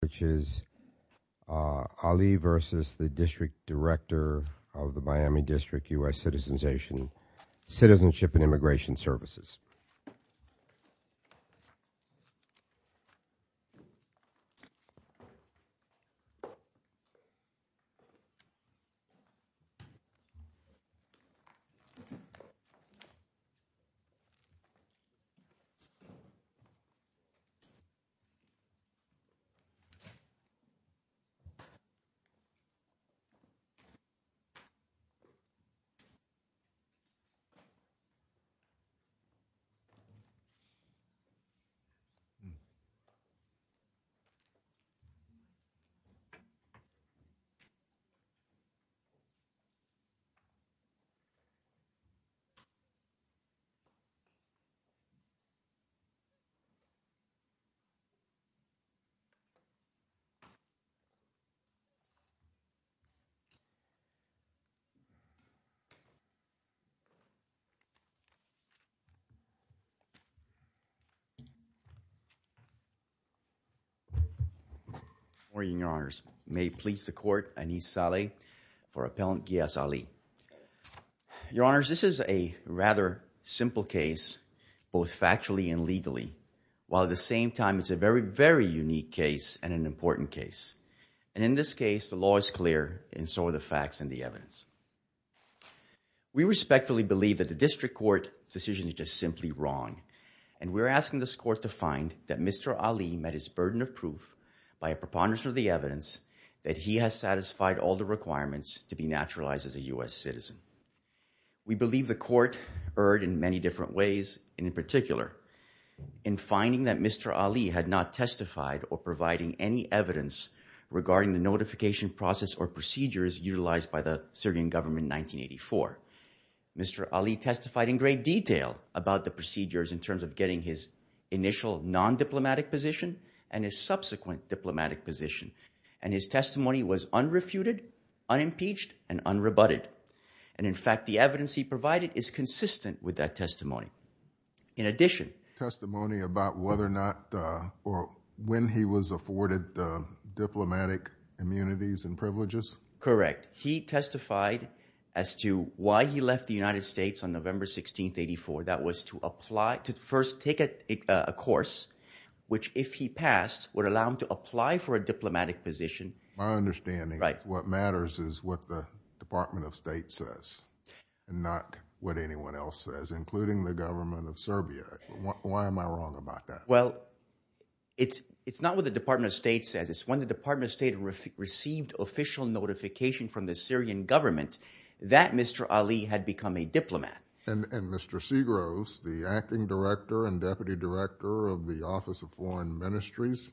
which is Ali v. the District Director of the Miami District, U.S. Citizenship and Immigration Services. Thank you. Thank you. Thank you. Thank you. Thank you. Thank you. Thank you. Thank you. Thank you. Thank you. Thank you. Good morning, Your Honors. May it please the court, Anis Saleh for Appellant Ghiass Ali. Your Honors, this is a rather simple case, both factually and legally, while at the same time it's a very, very unique case and an important case. And in this case, the law is clear and so are the facts and the evidence. We respectfully believe that the district court's decision is just simply wrong. And we're asking this court to find that Mr. Ali met his burden of proof by a preponderance of the evidence that he has satisfied all the requirements to be naturalized as a U.S. citizen. We believe the court erred in many different ways, and in particular in finding that Mr. Ali had not testified or providing any evidence regarding the notification process or procedures utilized by the Syrian government in 1984. Mr. Ali testified in great detail about the procedures in terms of getting his initial non-diplomatic position and his subsequent diplomatic position. And his testimony was unrefuted, unimpeached, and unrebutted. And in fact, the evidence he provided is consistent with that testimony. In addition— Testimony about whether or not or when he was afforded diplomatic immunities and privileges? Correct. He testified as to why he left the United States on November 16, 1984. That was to apply—to first take a course which, if he passed, would allow him to apply for a diplomatic position. My understanding is what matters is what the Department of State says and not what anyone else says, including the government of Serbia. Why am I wrong about that? Well, it's not what the Department of State says. It's when the Department of State received official notification from the Syrian government that Mr. Ali had become a diplomat. And Mr. Segros, the acting director and deputy director of the Office of Foreign Ministries,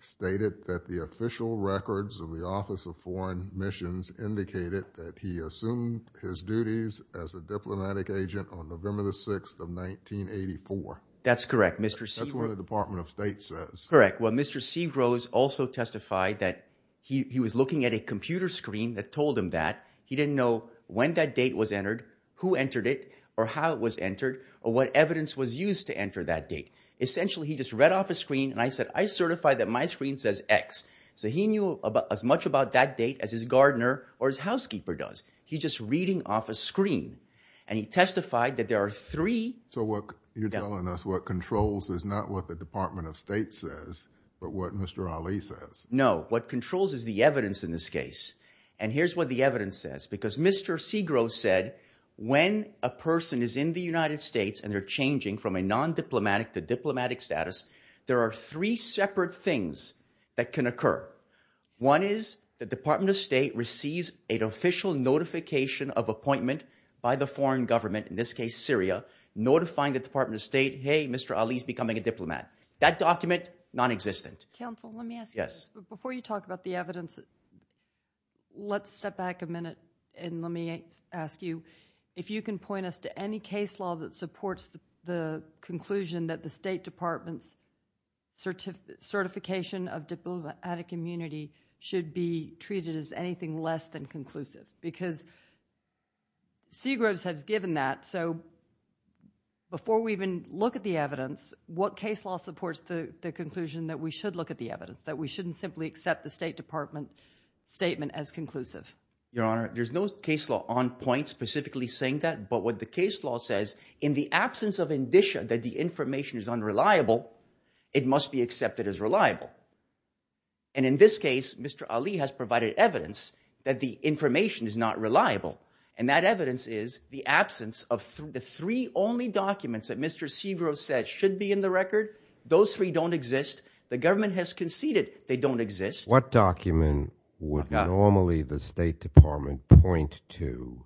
stated that the official records of the Office of Foreign Missions indicated that he assumed his duties as a diplomatic agent on November 6, 1984. That's correct, Mr. Segros. That's what the Department of State says. Correct. Well, Mr. Segros also testified that he was looking at a computer screen that told him that. He didn't know when that date was entered, who entered it, or how it was entered, or what evidence was used to enter that date. Essentially, he just read off a screen, and I said, I certify that my screen says X. So he knew as much about that date as his gardener or his housekeeper does. He's just reading off a screen. And he testified that there are three— So what you're telling us, what controls, is not what the Department of State says but what Mr. Ali says. No. What controls is the evidence in this case. And here's what the evidence says because Mr. Segros said when a person is in the United States and they're changing from a non-diplomatic to diplomatic status, there are three separate things that can occur. One is the Department of State receives an official notification of appointment by the foreign government, in this case Syria, notifying the Department of State, hey, Mr. Ali is becoming a diplomat. That document, nonexistent. Counsel, let me ask you this. Yes. Before you talk about the evidence, let's step back a minute and let me ask you if you can point us to any case law that supports the conclusion that the State Department's certification of diplomatic immunity should be treated as anything less than conclusive. Because Segros has given that. So before we even look at the evidence, what case law supports the conclusion that we should look at the evidence, that we shouldn't simply accept the State Department statement as conclusive? Your Honor, there's no case law on point specifically saying that. But what the case law says, in the absence of indicia that the information is unreliable, it must be accepted as reliable. And in this case, Mr. Ali has provided evidence that the information is not reliable. And that evidence is the absence of the three only documents that Mr. Segros said should be in the record. Those three don't exist. The government has conceded they don't exist. What document would normally the State Department point to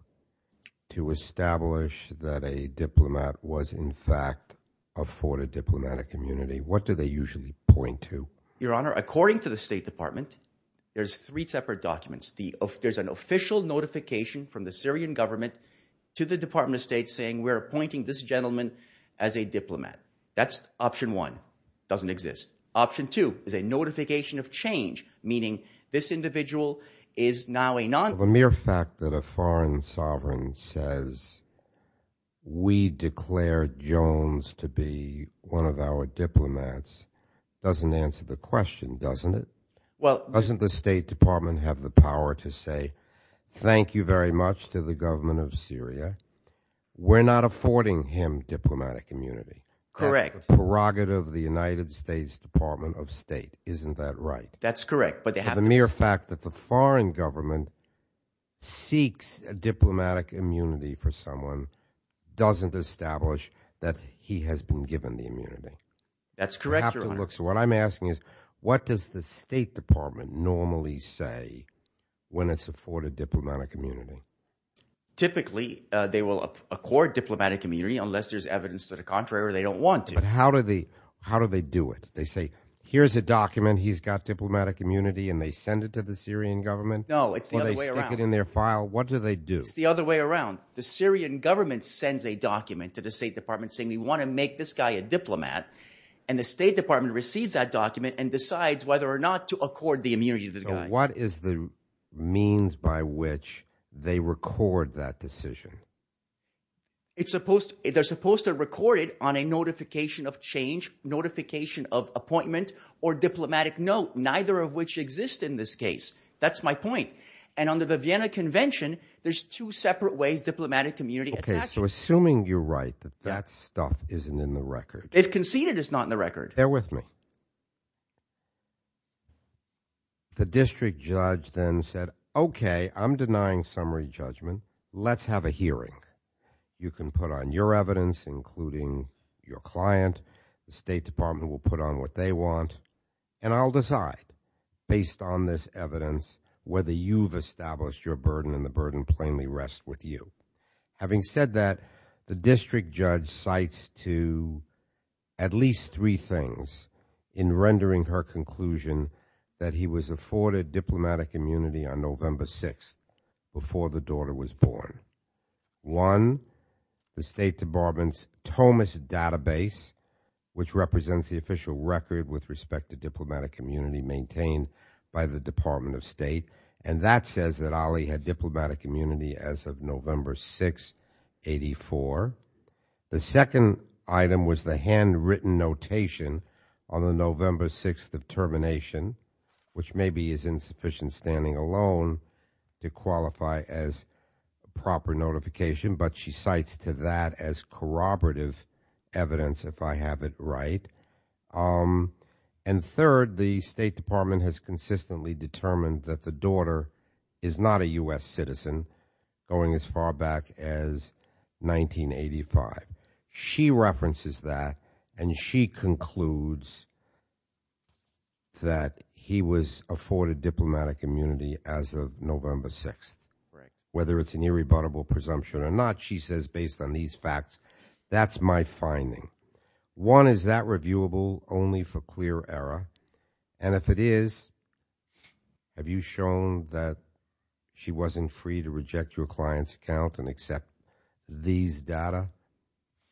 to establish that a diplomat was in fact afforded diplomatic immunity? What do they usually point to? Your Honor, according to the State Department, there's three separate documents. There's an official notification from the Syrian government to the Department of State saying we're appointing this gentleman as a diplomat. That's option one. Doesn't exist. Option two is a notification of change, meaning this individual is now a non- Doesn't answer the question, doesn't it? Doesn't the State Department have the power to say thank you very much to the government of Syria? We're not affording him diplomatic immunity. Correct. That's the prerogative of the United States Department of State. Isn't that right? That's correct. But the mere fact that the foreign government seeks diplomatic immunity for someone doesn't establish that he has been given the immunity. That's correct, Your Honor. So what I'm asking is what does the State Department normally say when it's afforded diplomatic immunity? Typically they will accord diplomatic immunity unless there's evidence to the contrary or they don't want to. But how do they do it? They say here's a document. He's got diplomatic immunity, and they send it to the Syrian government? No, it's the other way around. Or they stick it in their file? What do they do? It's the other way around. The Syrian government sends a document to the State Department saying we want to make this guy a diplomat, and the State Department receives that document and decides whether or not to accord the immunity to this guy. So what is the means by which they record that decision? They're supposed to record it on a notification of change, notification of appointment, or diplomatic note, neither of which exist in this case. That's my point. And under the Vienna Convention, there's two separate ways diplomatic immunity attaches. Okay, so assuming you're right that that stuff isn't in the record. If conceded, it's not in the record. Bear with me. The district judge then said, okay, I'm denying summary judgment. Let's have a hearing. You can put on your evidence, including your client. The State Department will put on what they want, and I'll decide based on this evidence whether you've established your burden and the burden plainly rests with you. Having said that, the district judge cites to at least three things in rendering her conclusion that he was afforded diplomatic immunity on November 6th before the daughter was born. One, the State Department's TOMAS database, which represents the official record with respect to diplomatic immunity maintained by the Department of State, and that says that Ali had diplomatic immunity as of November 6, 1984. The second item was the handwritten notation on the November 6th of termination, which maybe is insufficient standing alone to qualify as proper notification, but she cites to that as corroborative evidence, if I have it right. And third, the State Department has consistently determined that the daughter is not a U.S. citizen going as far back as 1985. She references that, and she concludes that he was afforded diplomatic immunity as of November 6th. Whether it's an irrebuttable presumption or not, she says based on these facts, that's my finding. One, is that reviewable only for clear error? And if it is, have you shown that she wasn't free to reject your client's account and accept these data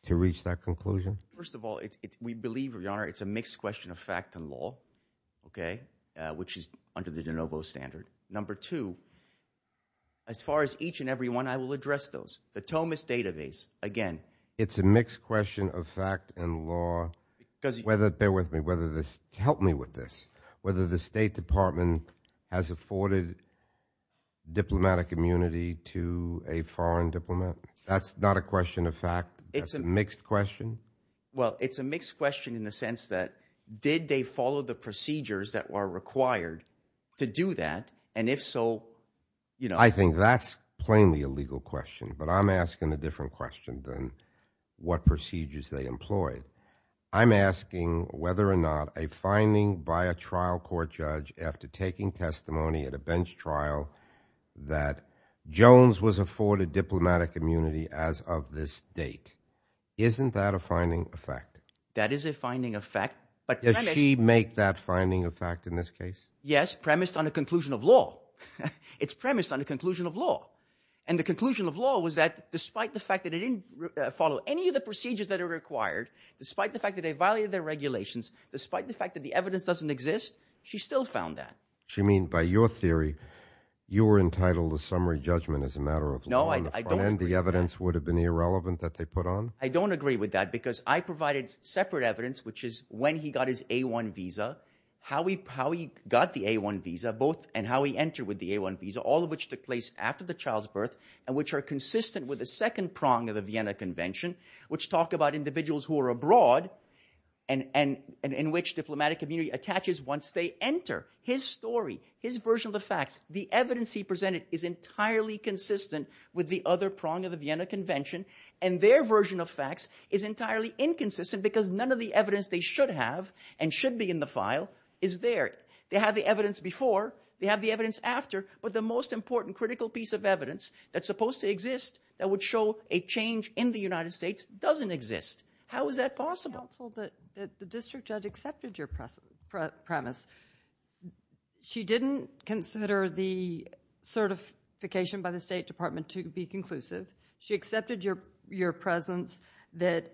to reach that conclusion? First of all, we believe, Your Honor, it's a mixed question of fact and law, okay, which is under the de novo standard. Number two, as far as each and every one, I will address those. The Tomas database, again. It's a mixed question of fact and law, whether, bear with me, whether this, help me with this, whether the State Department has afforded diplomatic immunity to a foreign diplomat. That's not a question of fact. It's a mixed question. Well, it's a mixed question in the sense that did they follow the procedures that were required to do that, and if so, you know. I think that's plainly a legal question, but I'm asking a different question than what procedures they employed. I'm asking whether or not a finding by a trial court judge after taking testimony at a bench trial that Jones was afforded diplomatic immunity as of this date. Isn't that a finding of fact? That is a finding of fact. Does she make that finding of fact in this case? Yes, premised on the conclusion of law. It's premised on the conclusion of law, and the conclusion of law was that despite the fact that it didn't follow any of the procedures that are required, despite the fact that they violated their regulations, despite the fact that the evidence doesn't exist, she still found that. She means by your theory, you were entitled to summary judgment as a matter of law. No, I don't agree with that. And the evidence would have been irrelevant that they put on? I don't agree with that because I provided separate evidence, which is when he got his A-1 visa, how he got the A-1 visa, both and how he entered with the A-1 visa, all of which took place after the child's birth, and which are consistent with the second prong of the Vienna Convention, which talk about individuals who are abroad and in which diplomatic immunity attaches once they enter. His story, his version of the facts, the evidence he presented is entirely consistent with the other prong of the Vienna Convention, and their version of facts is entirely inconsistent because none of the evidence they should have and should be in the file is there. They have the evidence before. They have the evidence after. But the most important critical piece of evidence that's supposed to exist that would show a change in the United States doesn't exist. How is that possible? Counsel, the district judge accepted your premise. She didn't consider the certification by the State Department to be conclusive. She accepted your presence that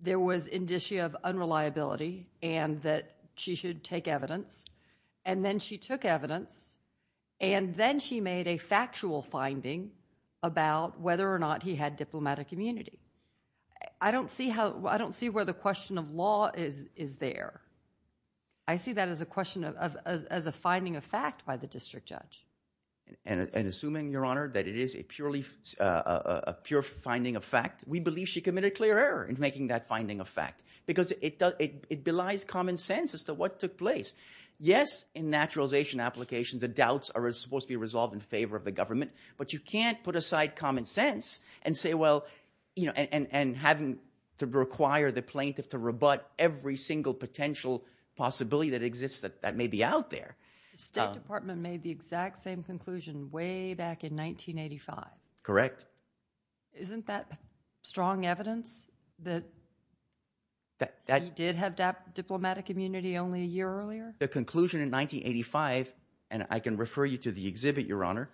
there was indicia of unreliability and that she should take evidence, and then she took evidence, and then she made a factual finding about whether or not he had diplomatic immunity. I don't see where the question of law is there. I see that as a finding of fact by the district judge. And assuming, Your Honor, that it is a pure finding of fact, we believe she committed clear error in making that finding of fact because it belies common sense as to what took place. Yes, in naturalization applications, the doubts are supposed to be resolved in favor of the government, but you can't put aside common sense and say, well, and having to require the plaintiff to rebut every single potential possibility that exists that may be out there. The State Department made the exact same conclusion way back in 1985. Correct. Isn't that strong evidence that he did have diplomatic immunity only a year earlier? The conclusion in 1985, and I can refer you to the exhibit, Your Honor.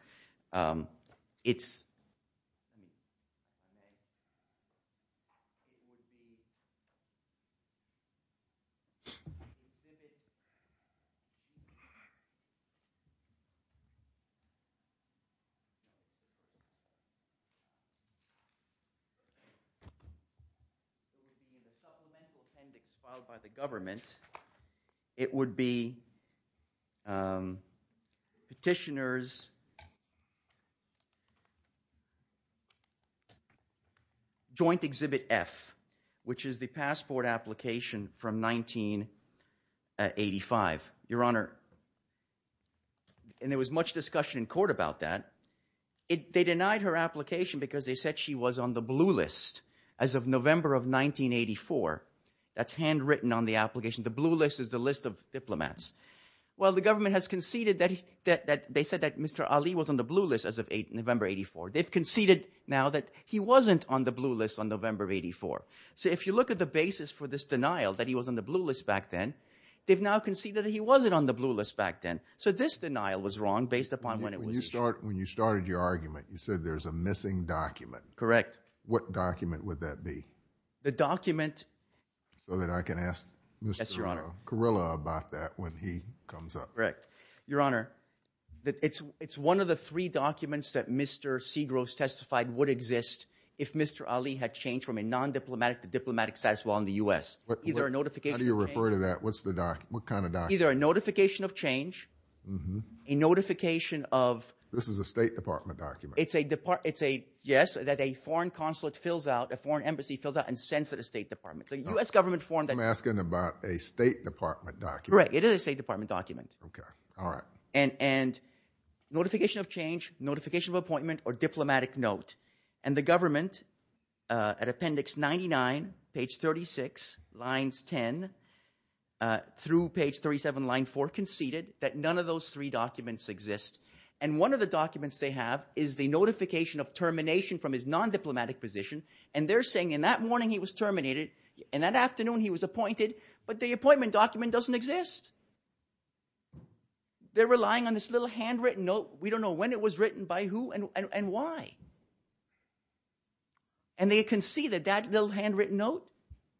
It's – It would be in the supplemental appendix filed by the government. It would be Petitioner's Joint Exhibit F, which is the passport application from 1985. Your Honor, and there was much discussion in court about that. They denied her application because they said she was on the blue list as of November of 1984. That's handwritten on the application. The blue list is the list of diplomats. Well, the government has conceded that – they said that Mr. Ali was on the blue list as of November of 1984. They've conceded now that he wasn't on the blue list on November of 1984. So if you look at the basis for this denial that he was on the blue list back then, they've now conceded that he wasn't on the blue list back then. So this denial was wrong based upon when it was issued. When you started your argument, you said there's a missing document. Correct. What document would that be? The document – So that I can ask Mr. Carrillo about that when he comes up. Correct. Your Honor, it's one of the three documents that Mr. Segros testified would exist if Mr. Ali had changed from a non-diplomatic to diplomatic status while in the U.S. Either a notification of change – How do you refer to that? What kind of document? Either a notification of change, a notification of – This is a State Department document. It's a – yes, that a foreign consulate fills out, a foreign embassy fills out and sends it to the State Department. It's a U.S. government form that – I'm asking about a State Department document. Correct. It is a State Department document. Okay. All right. And notification of change, notification of appointment, or diplomatic note. And the government, at Appendix 99, page 36, lines 10 through page 37, line 4, conceded that none of those three documents exist. And one of the documents they have is the notification of termination from his non-diplomatic position. And they're saying in that morning he was terminated, in that afternoon he was appointed, but the appointment document doesn't exist. They're relying on this little handwritten note. We don't know when it was written, by who, and why. And they concede that that little handwritten note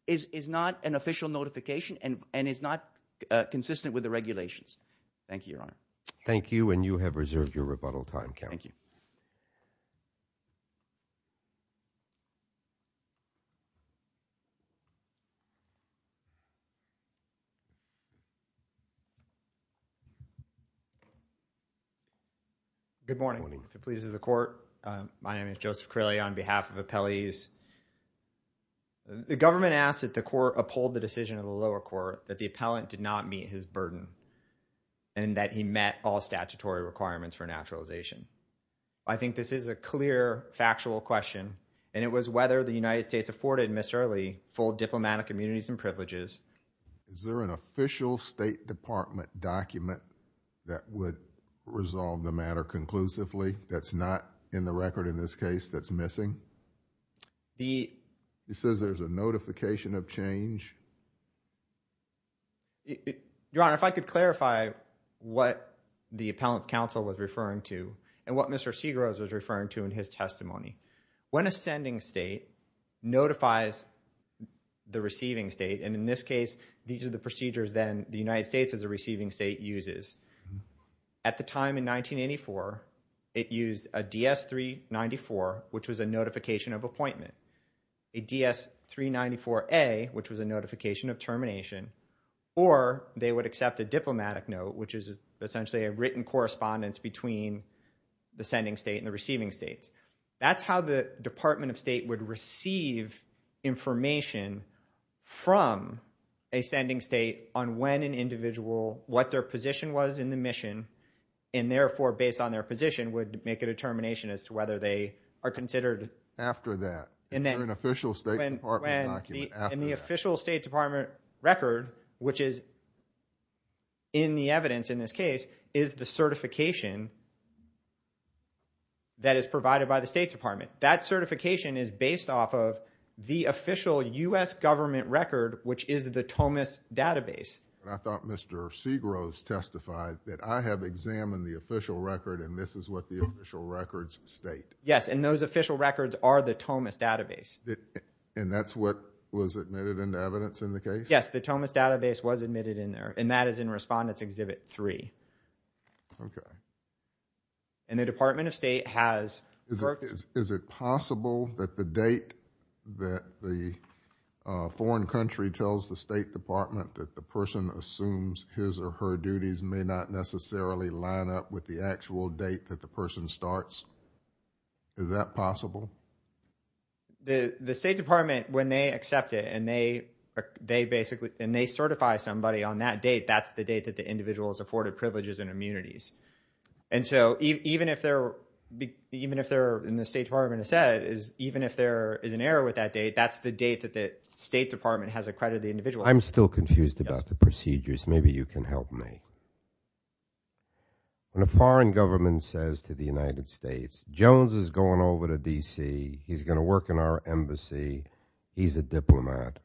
is not an official notification and is not consistent with the regulations. Thank you, Your Honor. Thank you, and you have reserved your rebuttal time, Counsel. Thank you. Good morning. If it pleases the Court, my name is Joseph Correlia on behalf of appellees. The government asks that the Court uphold the decision of the lower court that the appellant did not meet his burden and that he met all statutory requirements for naturalization. I think this is a clear, factual question, and it was whether the United States afforded Mr. Early full diplomatic immunities and privileges. Is there an official State Department document that would resolve the matter conclusively that's not in the record in this case that's missing? It says there's a notification of change. Your Honor, if I could clarify what the appellant's counsel was referring to and what Mr. Segaros was referring to in his testimony. When a sending state notifies the receiving state, and in this case these are the procedures then the United States as a receiving state uses, at the time in 1984 it used a DS-394, which was a notification of appointment, a DS-394A, which was a notification of termination, or they would accept a diplomatic note, which is essentially a written correspondence between the sending state and the receiving states. That's how the Department of State would receive information from a sending state on when an individual, what their position was in the mission, and therefore based on their position would make a determination as to whether they are considered. After that. In the official State Department record, which is in the evidence in this case, is the certification that is provided by the State Department. That certification is based off of the official U.S. government record, which is the Tomas database. I thought Mr. Segaros testified that I have examined the official record and this is what the official records state. Yes, and those official records are the Tomas database. And that's what was admitted into evidence in the case? Yes, the Tomas database was admitted in there, and that is in Respondents Exhibit 3. Okay. And the Department of State has... Is it possible that the date that the foreign country tells the State Department that the person assumes his or her duties may not necessarily line up with the actual date that the person starts? Is that possible? The State Department, when they accept it and they basically certify somebody on that date, that's the date that the individual is afforded privileges and immunities. And so even if they're in the State Department, even if there is an error with that date, that's the date that the State Department has accredited the individual. I'm still confused about the procedures. Maybe you can help me. When a foreign government says to the United States, Jones is going over to D.C., he's going to work in our embassy, he's a diplomat,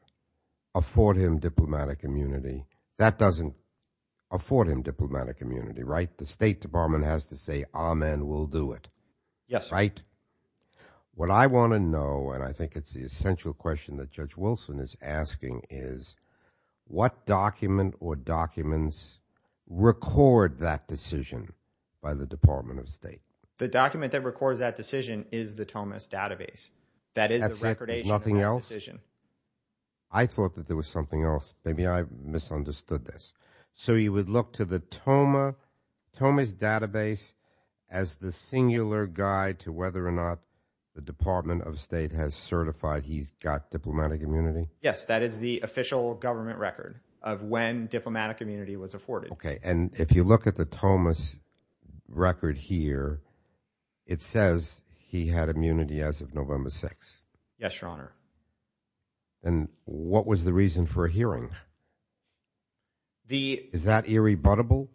afford him diplomatic immunity, that doesn't afford him diplomatic immunity, right? The State Department has to say, amen, we'll do it. Yes, sir. Right? What I want to know, and I think it's the essential question that Judge Wilson is asking, is what document or documents record that decision by the Department of State? The document that records that decision is the TOMAS database. That is the recordation of that decision. That's it? There's nothing else? I thought that there was something else. Maybe I misunderstood this. So you would look to the TOMAS database as the singular guide to whether or not the Department of State has certified he's got diplomatic immunity? Yes, that is the official government record of when diplomatic immunity was afforded. Okay, and if you look at the TOMAS record here, it says he had immunity as of November 6th. Yes, Your Honor. And what was the reason for a hearing? Is that irrebuttable?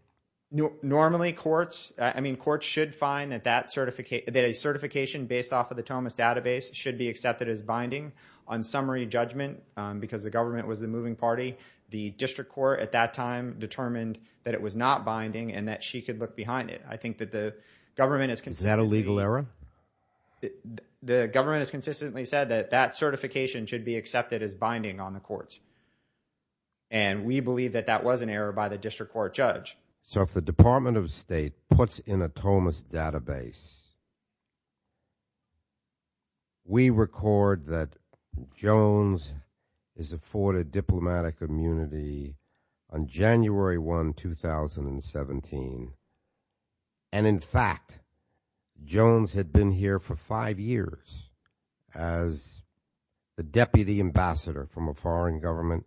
Normally courts should find that a certification based off of the TOMAS database should be accepted as binding on summary judgment because the government was the moving party. The district court at that time determined that it was not binding and that she could look behind it. I think that the government has consistently – Is that a legal error? The government has consistently said that that certification should be accepted as binding on the courts. And we believe that that was an error by the district court judge. So if the Department of State puts in a TOMAS database, we record that Jones is afforded diplomatic immunity on January 1, 2017. And in fact, Jones had been here for five years as the deputy ambassador from a foreign government.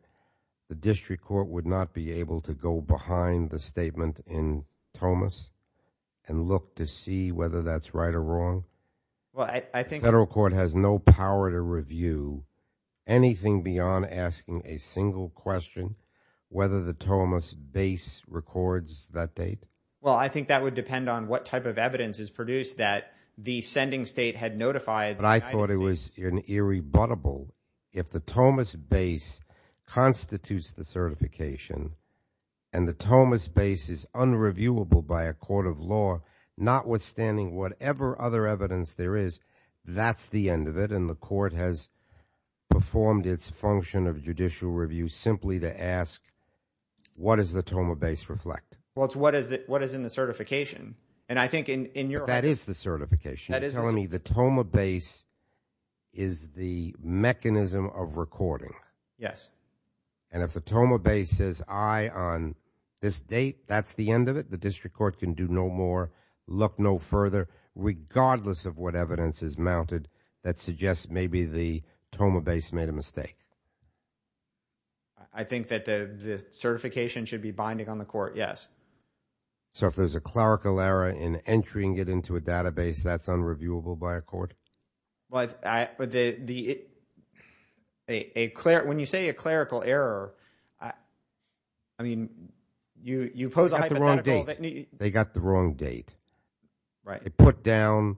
The district court would not be able to go behind the statement in TOMAS and look to see whether that's right or wrong? The federal court has no power to review anything beyond asking a single question whether the TOMAS base records that date. Well, I think that would depend on what type of evidence is produced that the sending state had notified the United States. It would be irrebuttable if the TOMAS base constitutes the certification and the TOMAS base is unreviewable by a court of law, notwithstanding whatever other evidence there is. That's the end of it, and the court has performed its function of judicial review simply to ask, what does the TOMA base reflect? Well, it's what is in the certification. That is the certification. You're telling me the TOMA base is the mechanism of recording. Yes. And if the TOMA base says, aye, on this date, that's the end of it? The district court can do no more, look no further, regardless of what evidence is mounted that suggests maybe the TOMA base made a mistake. I think that the certification should be binding on the court, yes. So if there's a clerical error in entering it into a database, that's unreviewable by a court? When you say a clerical error, I mean, you pose a hypothetical. They got the wrong date. They put down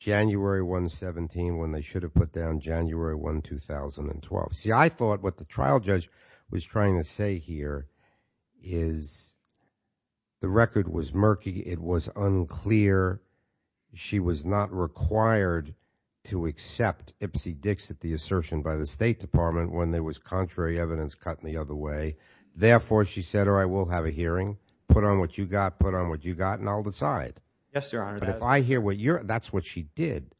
January 1, 17 when they should have put down January 1, 2012. See, I thought what the trial judge was trying to say here is the record was murky. It was unclear. She was not required to accept Ipsy-Dixit, the assertion by the State Department, when there was contrary evidence cut the other way. Therefore, she said, all right, we'll have a hearing. Put on what you got, put on what you got, and I'll decide. Yes, Your Honor. But if I hear what you're – that's what she did.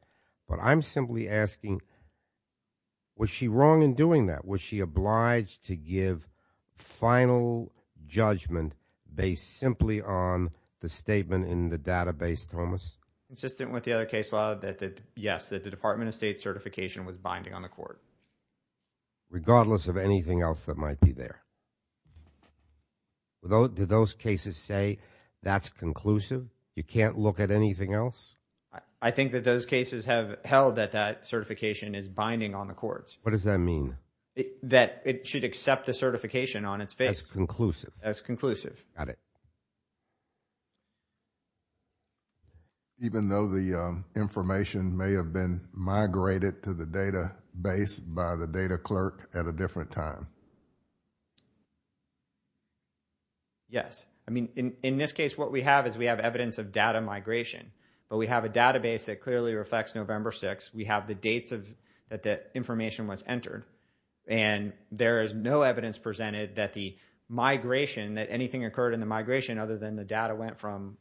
But I'm simply asking, was she wrong in doing that? Was she obliged to give final judgment based simply on the statement in the database, Thomas? Consistent with the other case law that, yes, that the Department of State certification was binding on the court. Regardless of anything else that might be there. Do those cases say that's conclusive? You can't look at anything else? I think that those cases have held that that certification is binding on the courts. What does that mean? That it should accept the certification on its face. As conclusive. As conclusive. Got it. Even though the information may have been migrated to the database by the data clerk at a different time? Yes. I mean, in this case, what we have is we have evidence of data migration. But we have a database that clearly reflects November 6th. We have the dates that that information was entered. And there is no evidence presented that the migration, that anything occurred in the migration other than the data went from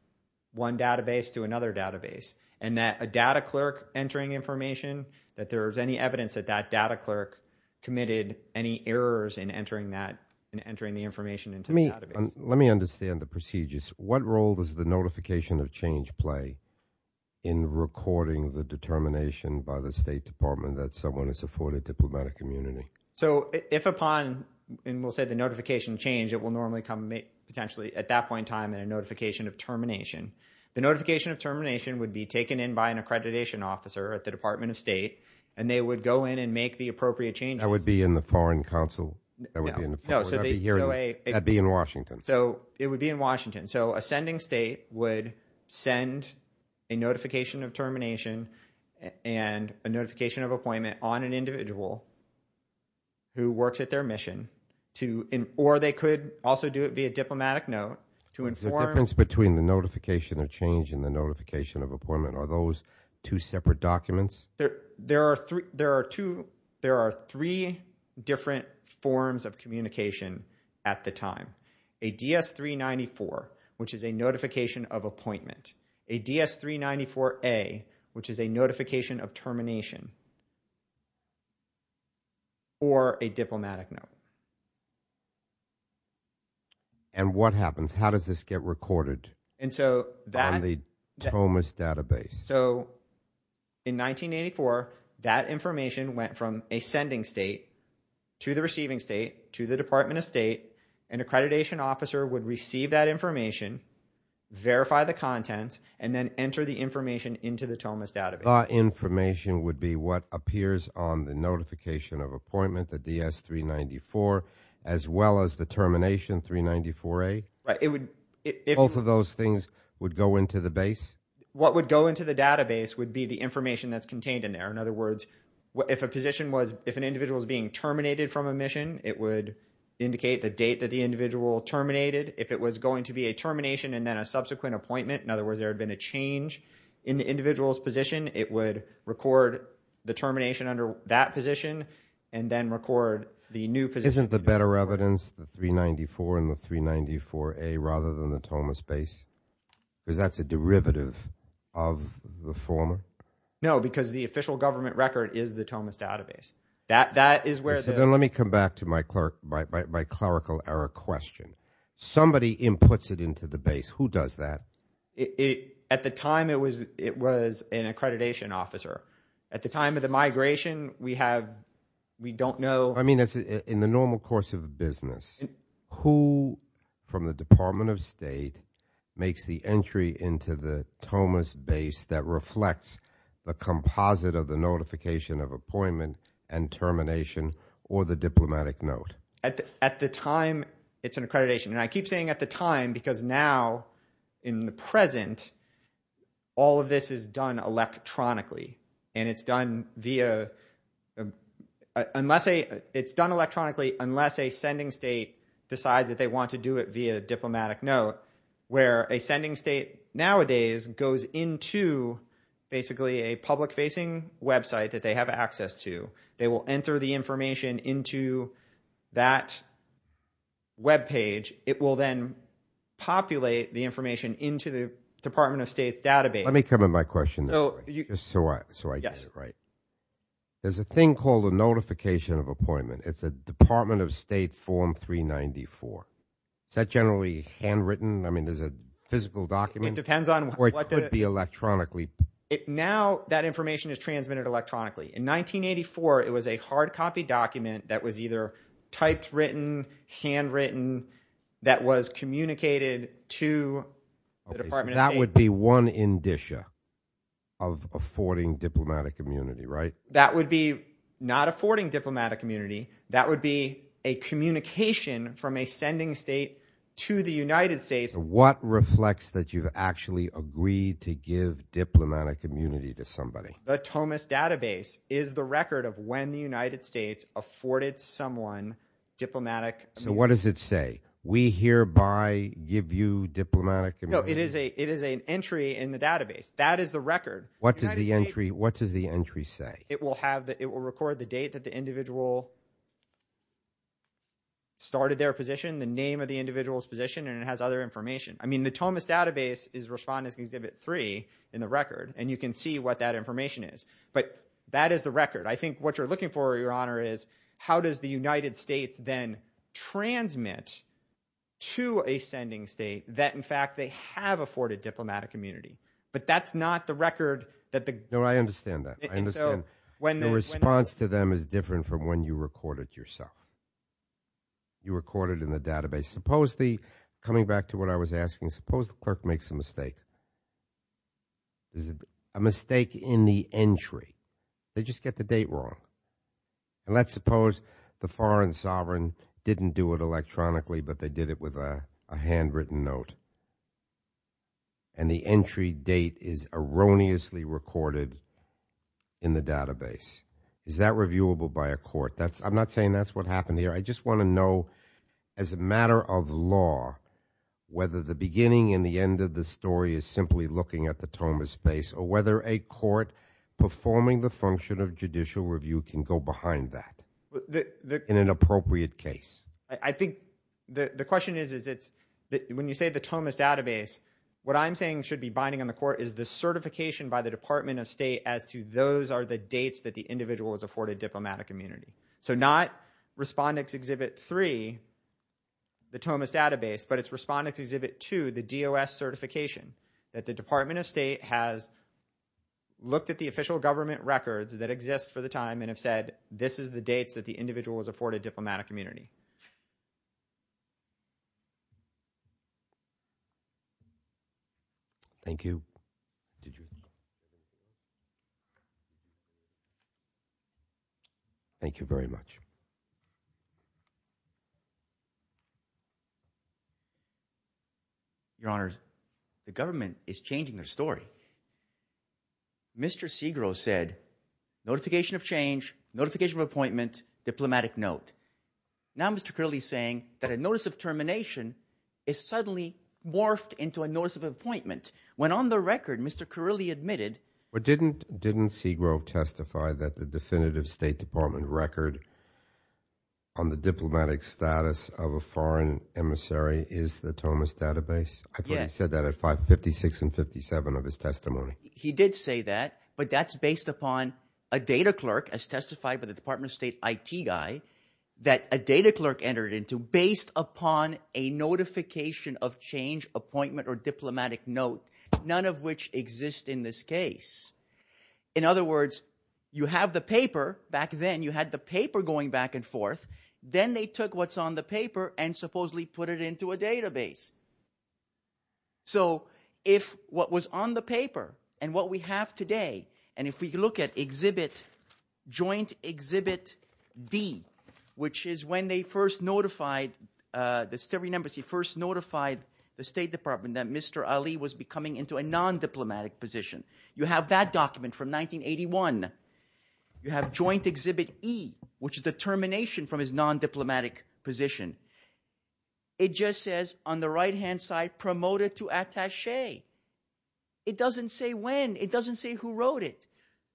one database to another database. And that a data clerk entering information, that there was any evidence that that data clerk committed any errors in entering that – in entering the information into the database. Let me understand the procedures. What role does the notification of change play in recording the determination by the State Department that someone has afforded diplomatic immunity? So if upon – and we'll say the notification of change, it will normally come potentially at that point in time in a notification of termination. The notification of termination would be taken in by an accreditation officer at the Department of State. And they would go in and make the appropriate changes. That would be in the Foreign Council? No. That would be in Washington. So it would be in Washington. So a sending state would send a notification of termination and a notification of appointment on an individual who works at their mission to – or they could also do it via diplomatic note to inform – The difference between the notification of change and the notification of appointment, are those two separate documents? There are three different forms of communication at the time. A DS-394, which is a notification of appointment. A DS-394A, which is a notification of termination. Or a diplomatic note. And what happens? How does this get recorded on the TOMAS database? So in 1984, that information went from a sending state to the receiving state to the Department of State and an accreditation officer would receive that information, verify the contents, and then enter the information into the TOMAS database. The information would be what appears on the notification of appointment, the DS-394, as well as the termination, 394A? Right. Both of those things would go into the base? What would go into the database would be the information that's contained in there. In other words, if a position was – if an individual is being terminated from a mission, it would indicate the date that the individual terminated. If it was going to be a termination and then a subsequent appointment, in other words there had been a change in the individual's position, it would record the termination under that position and then record the new position. Isn't the better evidence the 394 and the 394A rather than the TOMAS base? Because that's a derivative of the former? No, because the official government record is the TOMAS database. Then let me come back to my clerical error question. Somebody inputs it into the base. Who does that? At the time, it was an accreditation officer. At the time of the migration, we have – we don't know. I mean in the normal course of a business, who from the Department of State makes the entry into the TOMAS base that reflects the composite of the notification of appointment and termination or the diplomatic note? At the time, it's an accreditation. I keep saying at the time because now in the present, all of this is done electronically. It's done electronically unless a sending state decides that they want to do it via diplomatic note where a sending state nowadays goes into basically a public-facing website that they have access to. They will enter the information into that webpage. It will then populate the information into the Department of State's database. Let me come at my question this way just so I get it right. There's a thing called a notification of appointment. It's a Department of State Form 394. Is that generally handwritten? I mean there's a physical document? It depends on what the – Or it could be electronically? Now that information is transmitted electronically. In 1984, it was a hard copy document that was either typed written, handwritten, that was communicated to the Department of State. That would be one indicia of affording diplomatic immunity, right? That would be not affording diplomatic immunity. That would be a communication from a sending state to the United States. So what reflects that you've actually agreed to give diplomatic immunity to somebody? The TOMAS database is the record of when the United States afforded someone diplomatic immunity. So what does it say? We hereby give you diplomatic immunity? No, it is an entry in the database. That is the record. What does the entry say? It will record the date that the individual started their position, the name of the individual's position, and it has other information. I mean the TOMAS database is Respondents Exhibit 3 in the record, and you can see what that information is. But that is the record. I think what you're looking for, Your Honor, is how does the United States then transmit to a sending state that in fact they have afforded diplomatic immunity. But that's not the record that the – No, I understand that. I understand. The response to them is different from when you record it yourself. You record it in the database. Supposedly, coming back to what I was asking, suppose the clerk makes a mistake. A mistake in the entry. They just get the date wrong. And let's suppose the foreign sovereign didn't do it electronically, but they did it with a handwritten note, and the entry date is erroneously recorded in the database. Is that reviewable by a court? I'm not saying that's what happened here. I just want to know, as a matter of law, whether the beginning and the end of the story is simply looking at the TOMAS base or whether a court performing the function of judicial review can go behind that in an appropriate case. I think the question is, when you say the TOMAS database, what I'm saying should be binding on the court is the certification by the Department of State as to those are the dates that the individual has afforded diplomatic immunity. So not Respondent's Exhibit 3, the TOMAS database, but it's Respondent's Exhibit 2, the DOS certification, that the Department of State has looked at the official government records that exist for the time and have said this is the dates that the individual has afforded diplomatic immunity. Thank you. Thank you very much. Your Honors, the government is changing their story. Mr. Segrove said notification of change, notification of appointment, diplomatic note. Now Mr. Carilli is saying that a notice of termination is suddenly morphed into a notice of appointment, when on the record Mr. Carilli admitted. Didn't Segrove testify that the definitive State Department record on the diplomatic status of a foreign emissary is the TOMAS database? I thought he said that at 56 and 57 of his testimony. He did say that, but that's based upon a data clerk, as testified by the Department of State IT guy, that a data clerk entered into based upon a notification of change, appointment, or diplomatic note, none of which exist in this case. In other words, you have the paper. Back then you had the paper going back and forth. Then they took what's on the paper and supposedly put it into a database. So if what was on the paper and what we have today, and if we look at exhibit joint exhibit D, which is when they first notified the State Department that Mr. Ali was becoming into a non-diplomatic position. You have that document from 1981. You have joint exhibit E, which is the termination from his non-diplomatic position. It just says on the right-hand side promoted to attache. It doesn't say when. It doesn't say who wrote it.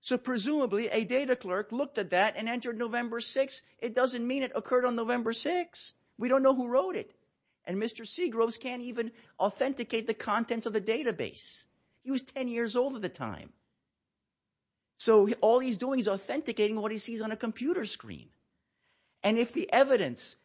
So presumably a data clerk looked at that and entered November 6. It doesn't mean it occurred on November 6. We don't know who wrote it. And Mr. Segrove can't even authenticate the contents of the database. He was 10 years old at the time. So all he's doing is authenticating what he sees on a computer screen. And if the evidence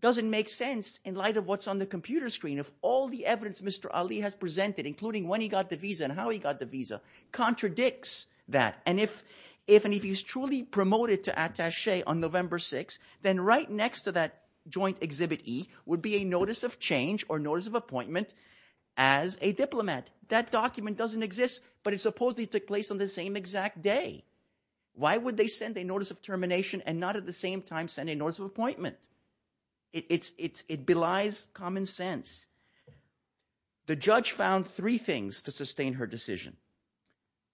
doesn't make sense in light of what's on the computer screen, if all the evidence Mr. Ali has presented, including when he got the visa and how he got the visa, contradicts that, and if he's truly promoted to attache on November 6, then right next to that joint exhibit E would be a notice of change or notice of appointment as a diplomat. That document doesn't exist, but it supposedly took place on the same exact day. Why would they send a notice of termination and not at the same time send a notice of appointment? It belies common sense. The judge found three things to sustain her decision,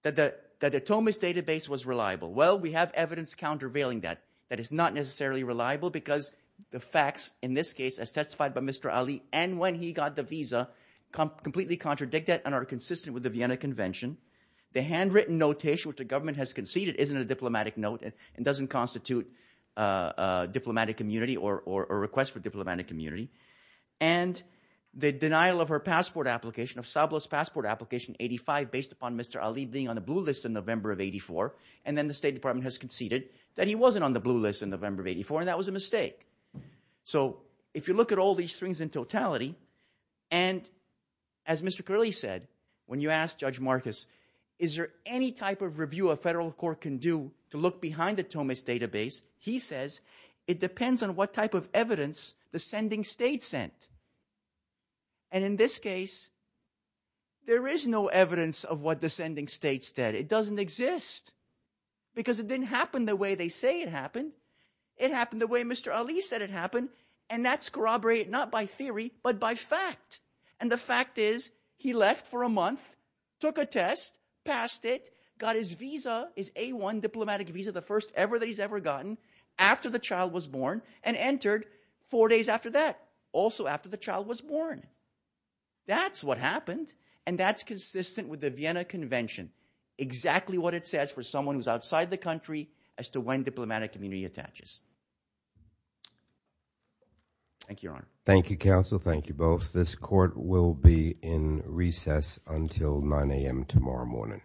that the Tomis database was reliable. Well, we have evidence countervailing that. That it's not necessarily reliable because the facts in this case as testified by Mr. Ali and when he got the visa completely contradict that and are consistent with the Vienna Convention. The handwritten notation which the government has conceded isn't a diplomatic note and doesn't constitute a diplomatic immunity or a request for diplomatic immunity. And the denial of her passport application, of Sablo's passport application, 85, based upon Mr. Ali being on the blue list in November of 84, and then the State Department has conceded that he wasn't on the blue list in November of 84, and that was a mistake. So if you look at all these things in totality, and as Mr. Curley said, when you ask Judge Marcus, is there any type of review a federal court can do to look behind the Tomis database, he says, it depends on what type of evidence the sending states sent. And in this case, there is no evidence of what the sending states did. It doesn't exist because it didn't happen the way they say it happened. It happened the way Mr. Ali said it happened, and that's corroborated not by theory but by fact. And the fact is he left for a month, took a test, passed it, got his visa, his A1 diplomatic visa, the first ever that he's ever gotten, after the child was born and entered four days after that, also after the child was born. That's what happened, and that's consistent with the Vienna Convention. Exactly what it says for someone who's outside the country as to when diplomatic immunity attaches. Thank you, Your Honor. Thank you, counsel. Thank you both. This court will be in recess until 9 a.m. tomorrow morning.